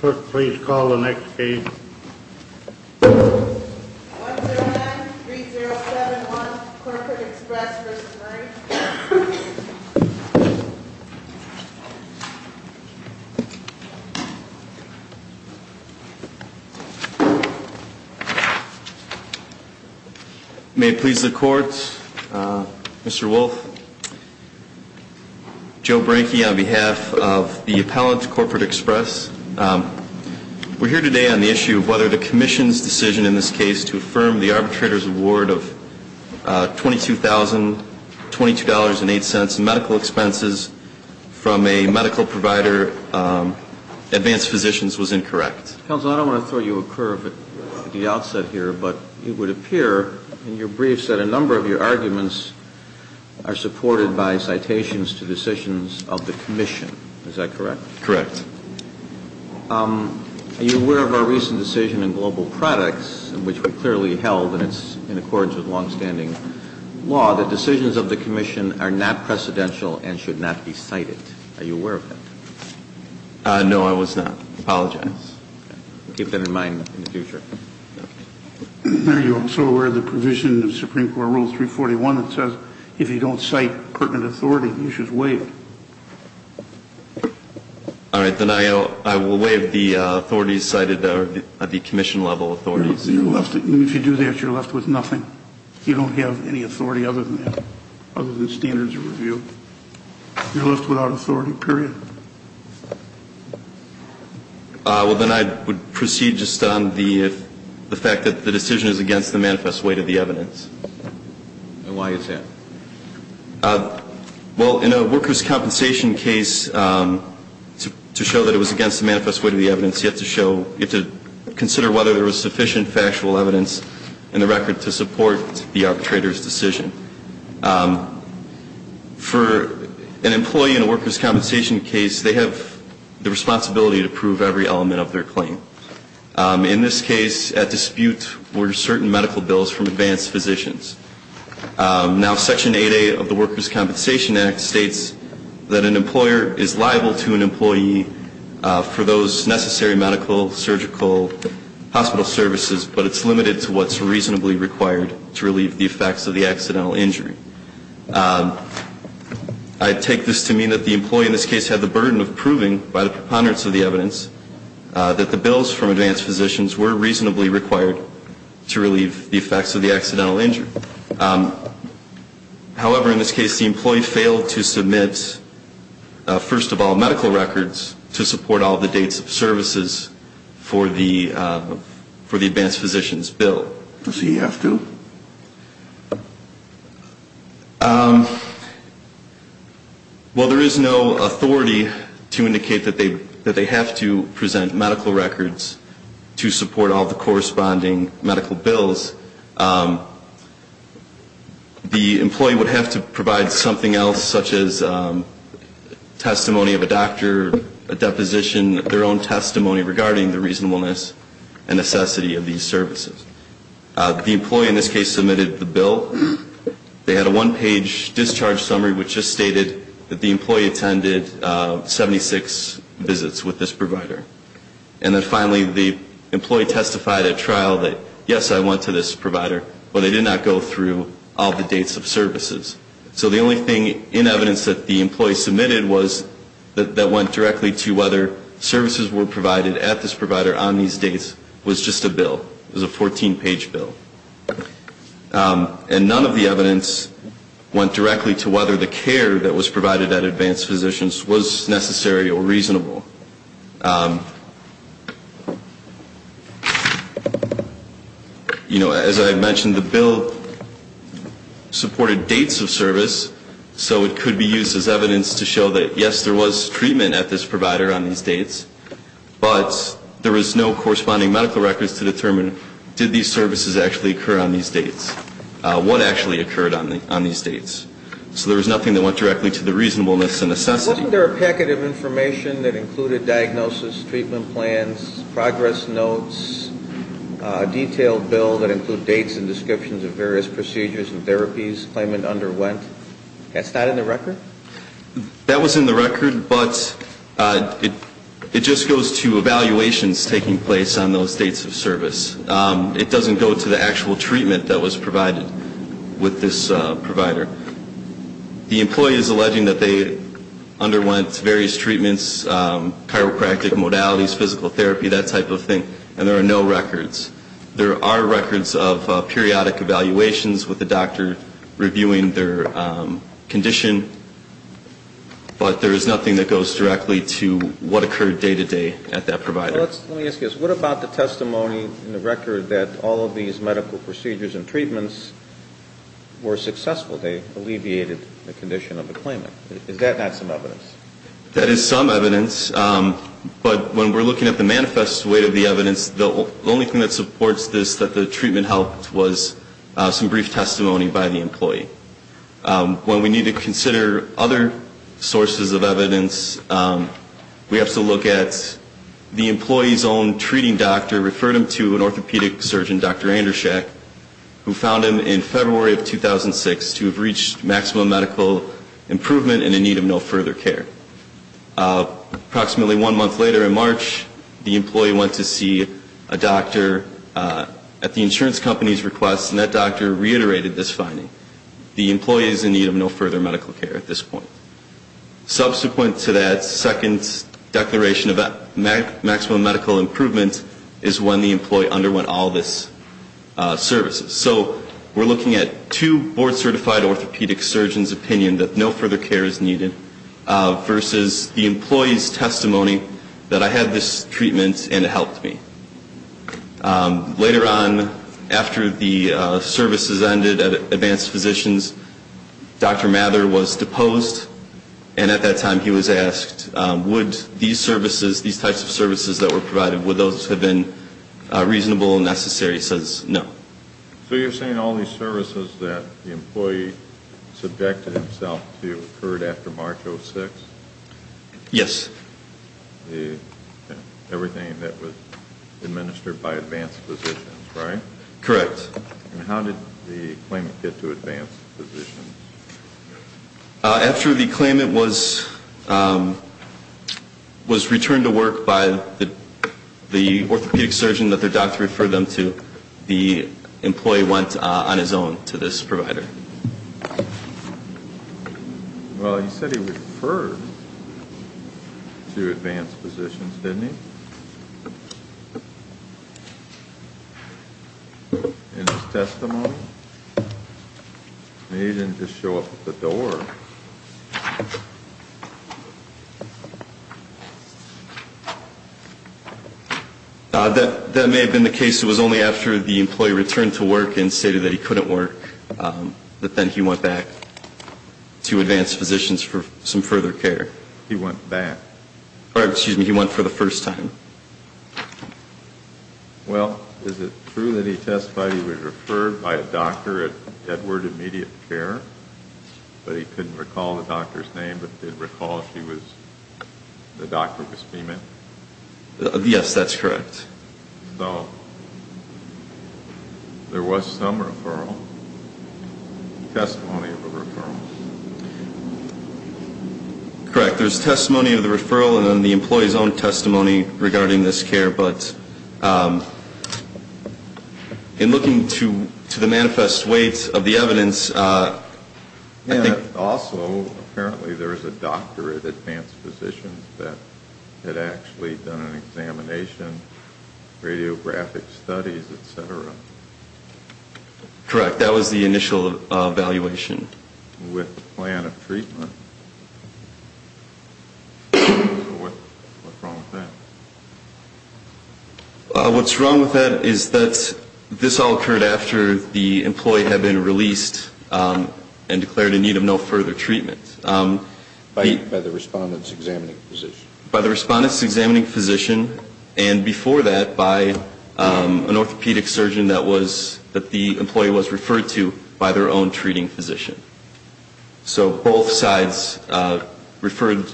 Clerk, please call the next case. 109-307-1 Corporate Express v. Murray May it please the Court, Mr. Wolfe, Joe Branke on behalf of the appellant to Corporate Express. We're here today on the issue of whether the Commission's decision in this case to affirm the arbitrator's award of $22,022.08 in medical expenses from a medical provider, Advanced Physicians, was incorrect. Counsel, I don't want to throw you a curve at the outset here, but it would appear in your briefs that a number of your arguments are supported by citations to decisions of the Commission. Is that correct? Correct. Are you aware of our recent decision in Global Products, in which we clearly held, and it's in accordance with longstanding law, that decisions of the Commission are not precedential and should not be cited? Are you aware of that? No, I was not. Apologize. Keep that in mind in the future. Are you also aware of the provision of Supreme Court Rule 341 that says if you don't cite pertinent authority, you should waive it? All right, then I will waive the authorities cited, or the Commission-level authorities. If you do that, you're left with nothing. You don't have any authority other than that, other than standards of review. You're left without authority, period. Well, then I would proceed just on the fact that the decision is against the manifest weight of the evidence. And why is that? Well, in a workers' compensation case, to show that it was against the manifest weight of the evidence, you have to consider whether there was sufficient factual evidence in the record to support the arbitrator's decision. For an employee in a workers' compensation case, they have the responsibility to prove every element of their claim. In this case, at dispute were certain medical bills from advanced physicians. Now, Section 8A of the Workers' Compensation Act states that an employer is liable to an employee for those necessary medical, surgical, hospital services, but it's limited to what's reasonably required to relieve the effects of the accidental injury. I take this to mean that the employee in this case had the burden of proving by the preponderance of the evidence that the bills from advanced physicians were reasonably required to relieve the effects of the accidental injury. However, in this case, the employee failed to submit, first of all, medical records to support all the dates of services for the advanced physician's bill. Does he have to? Well, there is no authority to indicate that they have to present medical records to support all the corresponding medical bills. The employee would have to provide something else, such as testimony of a doctor, a deposition, their own testimony regarding the reasonableness and necessity of these services. The employee in this case submitted the bill. They had a one-page discharge summary which just stated that the employee attended 76 visits with this provider. And then finally, the employee testified at trial that, yes, I went to this provider, but I did not go through all the dates of services. So the only thing in evidence that the employee submitted that went directly to whether services were provided at this provider on these dates was just a bill. It was a 14-page bill. And none of the evidence went directly to whether the care that was provided at advanced physicians was necessary or reasonable. You know, as I mentioned, the bill supported dates of service, so it could be used as evidence to show that, yes, there was treatment at this provider on these dates, but there was no corresponding medical records to determine, did these services actually occur on these dates? What actually occurred on these dates? So there was nothing that went directly to the reasonableness and necessity. Wasn't there a packet of information that included diagnosis, treatment plans, progress notes, detailed bill that include dates and descriptions of various procedures and therapies, claimant underwent? That's not in the record? That was in the record, but it just goes to evaluations taking place on those dates of service. It doesn't go to the actual treatment that was provided with this provider. The employee is alleging that they underwent various treatments, chiropractic modalities, physical therapy, that type of thing, and there are no records. There are records of periodic evaluations with the doctor reviewing their condition, but there is nothing that goes directly to what occurred day-to-day at that provider. Let me ask you this. What about the testimony in the record that all of these medical procedures and treatments were successful? They alleviated the condition of the claimant. Is that not some evidence? That is some evidence, but when we're looking at the manifest weight of the evidence, the only thing that supports this that the treatment helped was some brief testimony by the employee. In this case, we have to look at the employee's own treating doctor referred him to an orthopedic surgeon, Dr. Andershak, who found him in February of 2006 to have reached maximum medical improvement and in need of no further care. Approximately one month later, in March, the employee went to see a doctor at the insurance company's request, and that doctor reiterated this finding. The employee is in need of no further medical care at this point. Subsequent to that second declaration of maximum medical improvement is when the employee underwent all of these services. So we're looking at two board-certified orthopedic surgeons' opinion that no further care is needed versus the employee's testimony that I had this treatment and it helped me. Later on, after the services ended at Advanced Physicians, Dr. Mather was deposed, and at that time he was asked, would these services, these types of services that were provided, would those have been reasonable and necessary? He says no. So you're saying all these services that the employee subjected himself to occurred after March of 2006? Yes. Everything that was administered by Advanced Physicians, right? Correct. And how did the claimant get to Advanced Physicians? After the claimant was returned to work by the orthopedic surgeon that their doctor referred them to, the employee went on his own to this provider. Well, he said he referred to Advanced Physicians, didn't he? In his testimony? He didn't just show up at the door. That may have been the case. It was only after the employee returned to work and stated that he couldn't work that then he went back to Advanced Physicians for some further care. He went back? Or, excuse me, he went for the first time. Well, is it true that he testified he was referred by a doctor at Edward Immediate Care, but he couldn't recall the doctor's name, but did recall she was the doctor who was payment? Yes, that's correct. So there was some referral, testimony of a referral. Correct. There's testimony of the referral and then the employee's own testimony regarding this care. But in looking to the manifest weight of the evidence, I think... Also, apparently there was a doctor at Advanced Physicians that had actually done an examination, radiographic studies, et cetera. Correct. That was the initial evaluation. With the plan of treatment. What's wrong with that? What's wrong with that is that this all occurred after the employee had been released and declared in need of no further treatment. By the respondent's examining physician. By the respondent's examining physician and before that by an orthopedic surgeon that the employee was referred to by their own treating physician. So both sides referred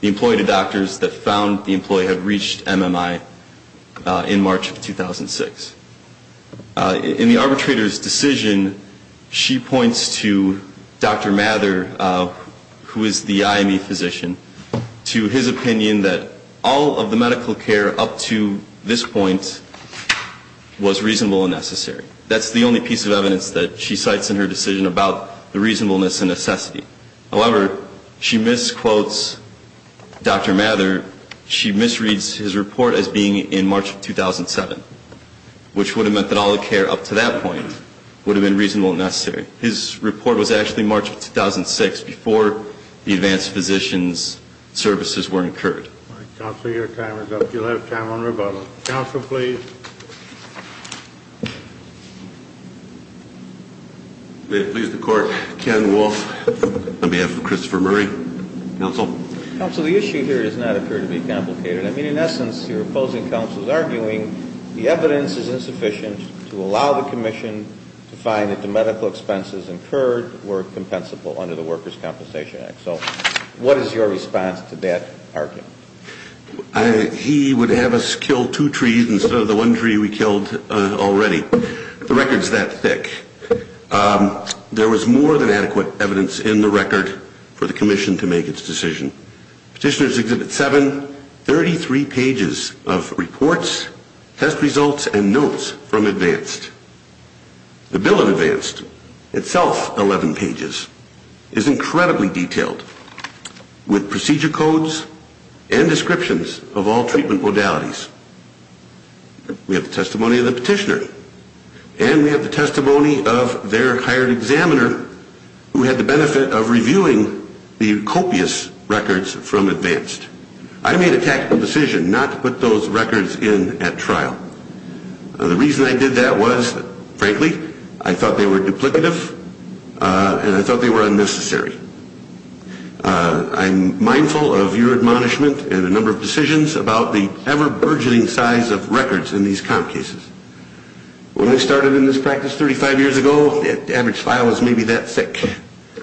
the employee to doctors that found the employee had reached MMI in March of 2006. In the arbitrator's decision, she points to Dr. Mather, who is the IME physician, to his opinion that all of the medical care up to this point was reasonable and necessary. That's the only piece of evidence that she cites in her decision about the reasonableness and necessity. However, she misquotes Dr. Mather. She misreads his report as being in March of 2007, which would have meant that all the care up to that point would have been reasonable and necessary. His report was actually March of 2006 before the advanced physician's services were incurred. Counsel, your time is up. You'll have time on rebuttal. Counsel, please. May it please the Court. Ken Wolf on behalf of Christopher Murray. Counsel. Counsel, the issue here does not appear to be complicated. I mean, in essence, you're opposing counsel's arguing the evidence is insufficient to allow the commission to find that the medical expenses incurred were compensable under the Workers' Compensation Act. So what is your response to that argument? He would have us kill two trees instead of the one tree we killed already. The record's that thick. There was more than adequate evidence in the record for the commission to make its decision. Petitioner's Exhibit 7, 33 pages of reports, test results, and notes from advanced. The bill of advanced, itself 11 pages, is incredibly detailed with procedure codes and descriptions of all treatment modalities. We have the testimony of the petitioner, and we have the testimony of their hired examiner who had the benefit of reviewing the copious records from advanced. I made a tactical decision not to put those records in at trial. The reason I did that was, frankly, I thought they were duplicative, and I thought they were unnecessary. I'm mindful of your admonishment and a number of decisions about the ever-burgeoning size of records in these comp cases. When we started in this practice 35 years ago, the average file was maybe that thick.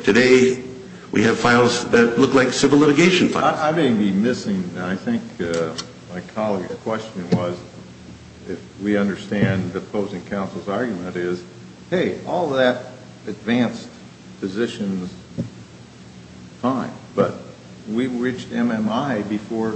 Today, we have files that look like civil litigation files. I may be missing, and I think my colleague's question was, if we understand the opposing counsel's argument is, hey, all that advanced physicians, fine, but we reached MMI before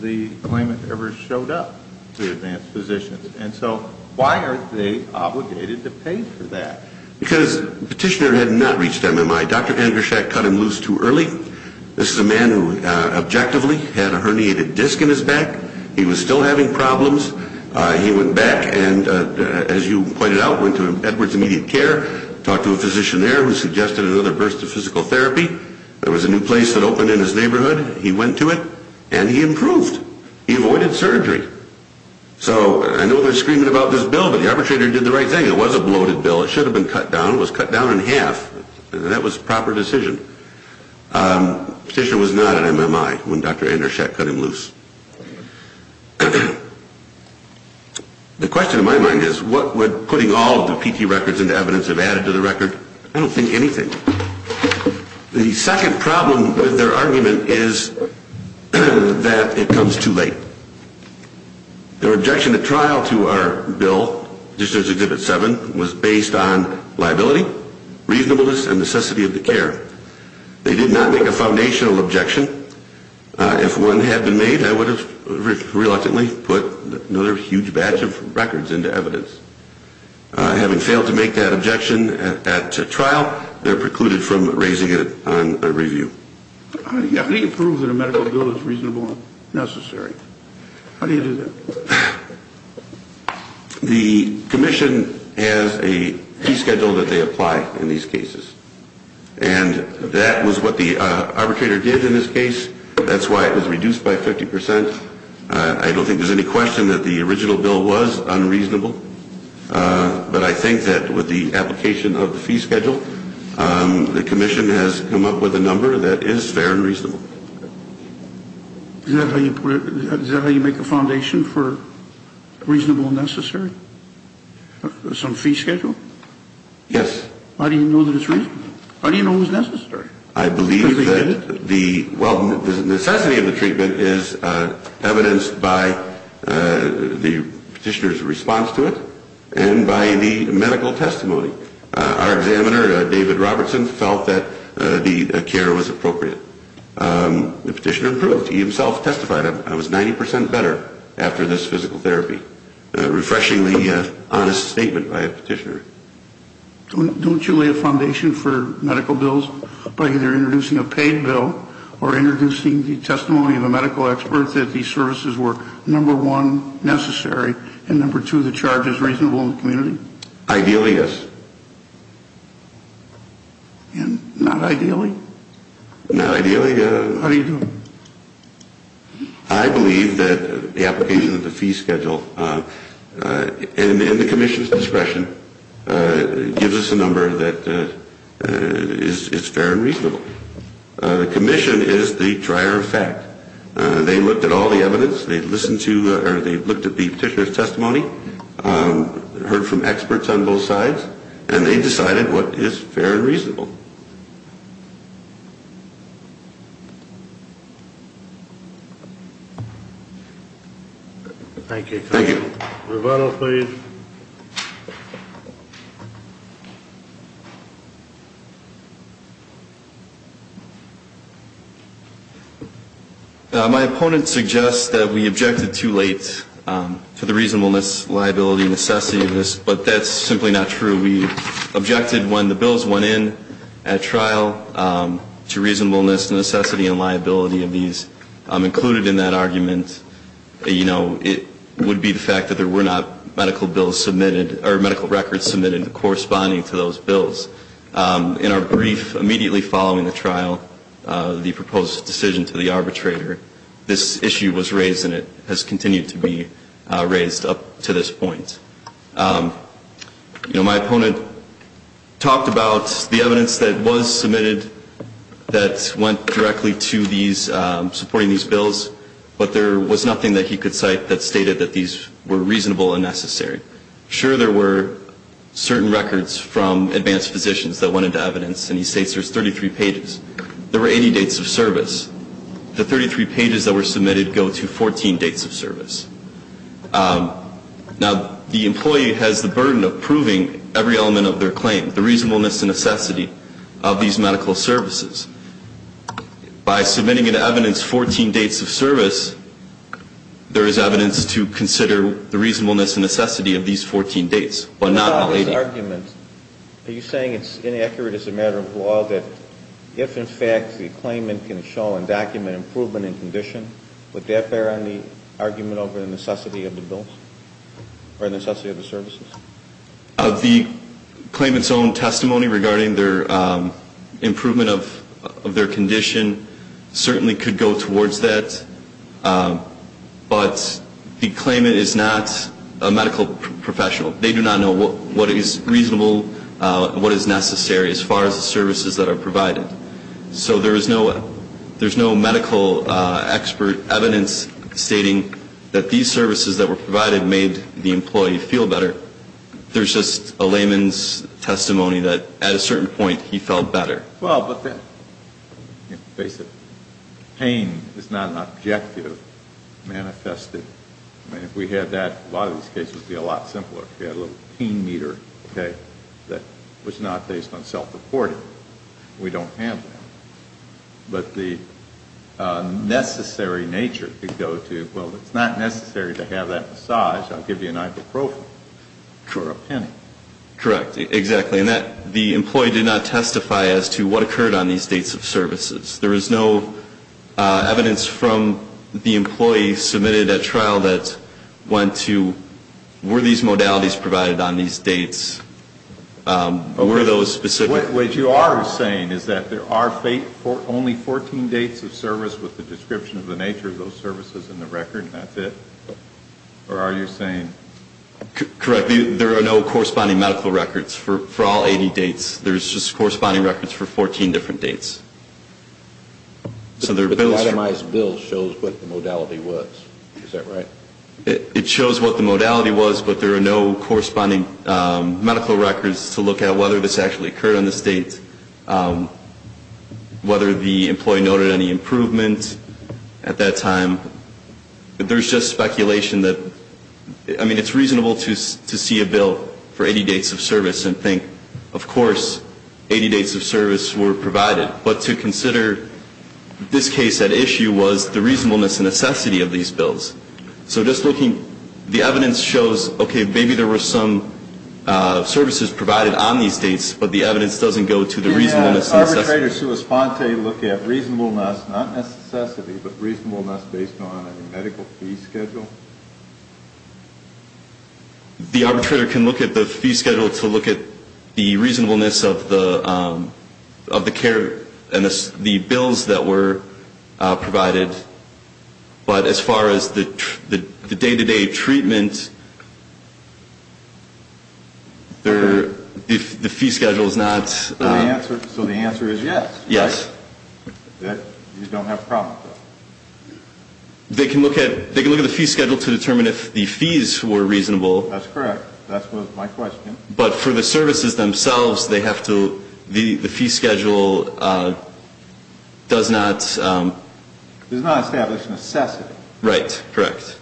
the claimant ever showed up to advanced physicians. And so why are they obligated to pay for that? Because the petitioner had not reached MMI. Dr. Angershak cut him loose too early. This is a man who objectively had a herniated disc in his back. He was still having problems. He went back and, as you pointed out, went to Edwards Immediate Care, talked to a physician there who suggested another burst of physical therapy. There was a new place that opened in his neighborhood. He went to it, and he improved. He avoided surgery. So I know there's screaming about this bill, but the arbitrator did the right thing. It was a bloated bill. It should have been cut down. It was cut down in half, and that was a proper decision. The petitioner was not at MMI when Dr. Angershak cut him loose. The question in my mind is, what would putting all of the PT records into evidence have added to the record? I don't think anything. The second problem with their argument is that it comes too late. Their objection at trial to our bill, Petitioner's Exhibit 7, was based on liability, reasonableness, and necessity of the care. They did not make a foundational objection. If one had been made, I would have reluctantly put another huge batch of records into evidence. Having failed to make that objection at trial, they're precluded from raising it on review. How do you prove that a medical bill is reasonable and necessary? How do you do that? The commission has a fee schedule that they apply in these cases. And that was what the arbitrator did in this case. That's why it was reduced by 50%. I don't think there's any question that the original bill was unreasonable. But I think that with the application of the fee schedule, the commission has come up with a number that is fair and reasonable. Is that how you make a foundation for reasonable and necessary? Some fee schedule? Yes. How do you know that it's reasonable? How do you know it's necessary? The necessity of the treatment is evidenced by the petitioner's response to it, and by the medical testimony. Our examiner, David Robertson, felt that the care was appropriate. The petitioner proved it. He himself testified that it was 90% better after this physical therapy. Refreshingly honest statement by a petitioner. Don't you lay a foundation for medical bills by either introducing a paid bill or introducing the testimony of a medical expert that these services were, number one, necessary, and number two, the charge is reasonable in the community? Ideally, yes. And not ideally? Not ideally. How do you do it? I believe that the application of the fee schedule, and the commission's discretion, the commission is the dryer of fact. They looked at all the evidence, they listened to, or they looked at the petitioner's testimony, heard from experts on both sides, and they decided what is fair and reasonable. Thank you. Thank you. Reveno, please. My opponent suggests that we objected too late to the reasonableness, liability, and necessity of this, but that's simply not true. We objected when the bills went in at trial to reasonableness, necessity, and liability of these. Included in that argument, you know, it would be the fact that there were not medical bills submitted or medical records submitted corresponding to those bills. In our brief immediately following the trial, the proposed decision to the arbitrator, this issue was raised and it has continued to be raised up to this point. You know, my opponent talked about the evidence that was submitted that went directly to these, supporting these bills, but there was nothing that he could cite that stated that these were reasonable and necessary. Sure, there were certain records from advanced physicians that went into evidence, and he states there's 33 pages. There were 80 dates of service. The 33 pages that were submitted go to 14 dates of service. Now, the employee has the burden of proving every element of their claim, the reasonableness and necessity of these medical services. By submitting it to evidence 14 dates of service, there is evidence to consider the reasonableness and necessity of these 14 dates, but not all 80. What about this argument? Are you saying it's inaccurate as a matter of law that if, in fact, the claimant can show and document improvement in condition, would that bear on the argument over the necessity of the bills or the necessity of the services? Of the claimant's own testimony regarding their improvement of their condition, certainly could go towards that, but the claimant is not a medical professional. They do not know what is reasonable and what is necessary as far as the services that are provided. So there's no medical expert evidence stating that these services that were provided made the employee feel better. There's just a layman's testimony that at a certain point he felt better. Well, but that, you have to face it, pain is not an objective manifested. I mean, if we had that, a lot of these cases would be a lot simpler. If we had a little pain meter, okay, that was not based on self-reported, we don't have that. But the necessary nature could go to, well, it's not necessary to have that massage. I'll give you an ibuprofen for a penny. Correct. Exactly. And the employee did not testify as to what occurred on these dates of services. There is no evidence from the employee submitted at trial that went to, were these modalities provided on these dates, were those specific? What you are saying is that there are only 14 dates of service with the description of the nature of those services in the record and that's it? Or are you saying? Correct. There are no corresponding medical records for all 80 dates. There's just corresponding records for 14 different dates. But the itemized bill shows what the modality was. Is that right? It shows what the modality was, but there are no corresponding medical records to look at whether this actually occurred on this date. Whether the employee noted any improvement at that time. There's just speculation that, I mean, it's reasonable to see a bill for 80 dates of service and think, of course, 80 dates of service were provided. But to consider this case at issue was the reasonableness and necessity of these bills. So just looking, the evidence shows, okay, maybe there were some services provided on these dates, but the evidence doesn't go to the reasonableness and necessity. Can the arbitrator look at reasonableness, not necessity, but reasonableness based on a medical fee schedule? The arbitrator can look at the fee schedule to look at the reasonableness of the care and the bills that were provided. But as far as the day-to-day treatment, the fee schedule is not. So the answer is yes. You don't have a problem with that. They can look at the fee schedule to determine if the fees were reasonable. That's correct. That was my question. But for the services themselves, they have to, the fee schedule does not. It does not establish necessity. Right. Correct.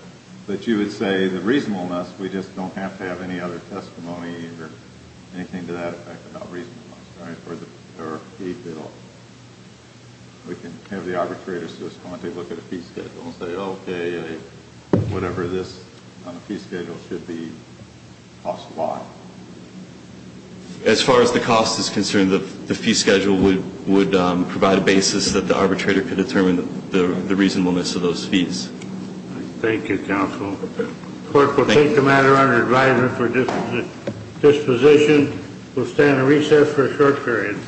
But you would say the reasonableness, we just don't have to have any other testimony or anything to that effect about reasonableness, right, or a bill. We can have the arbitrator just go and take a look at a fee schedule and say, okay, whatever this fee schedule should be, cost why? As far as the cost is concerned, the fee schedule would provide a basis that the arbitrator could determine the reasonableness of those fees. Thank you, counsel. The court will take the matter under advisement for disposition. We'll stand at recess for a short period.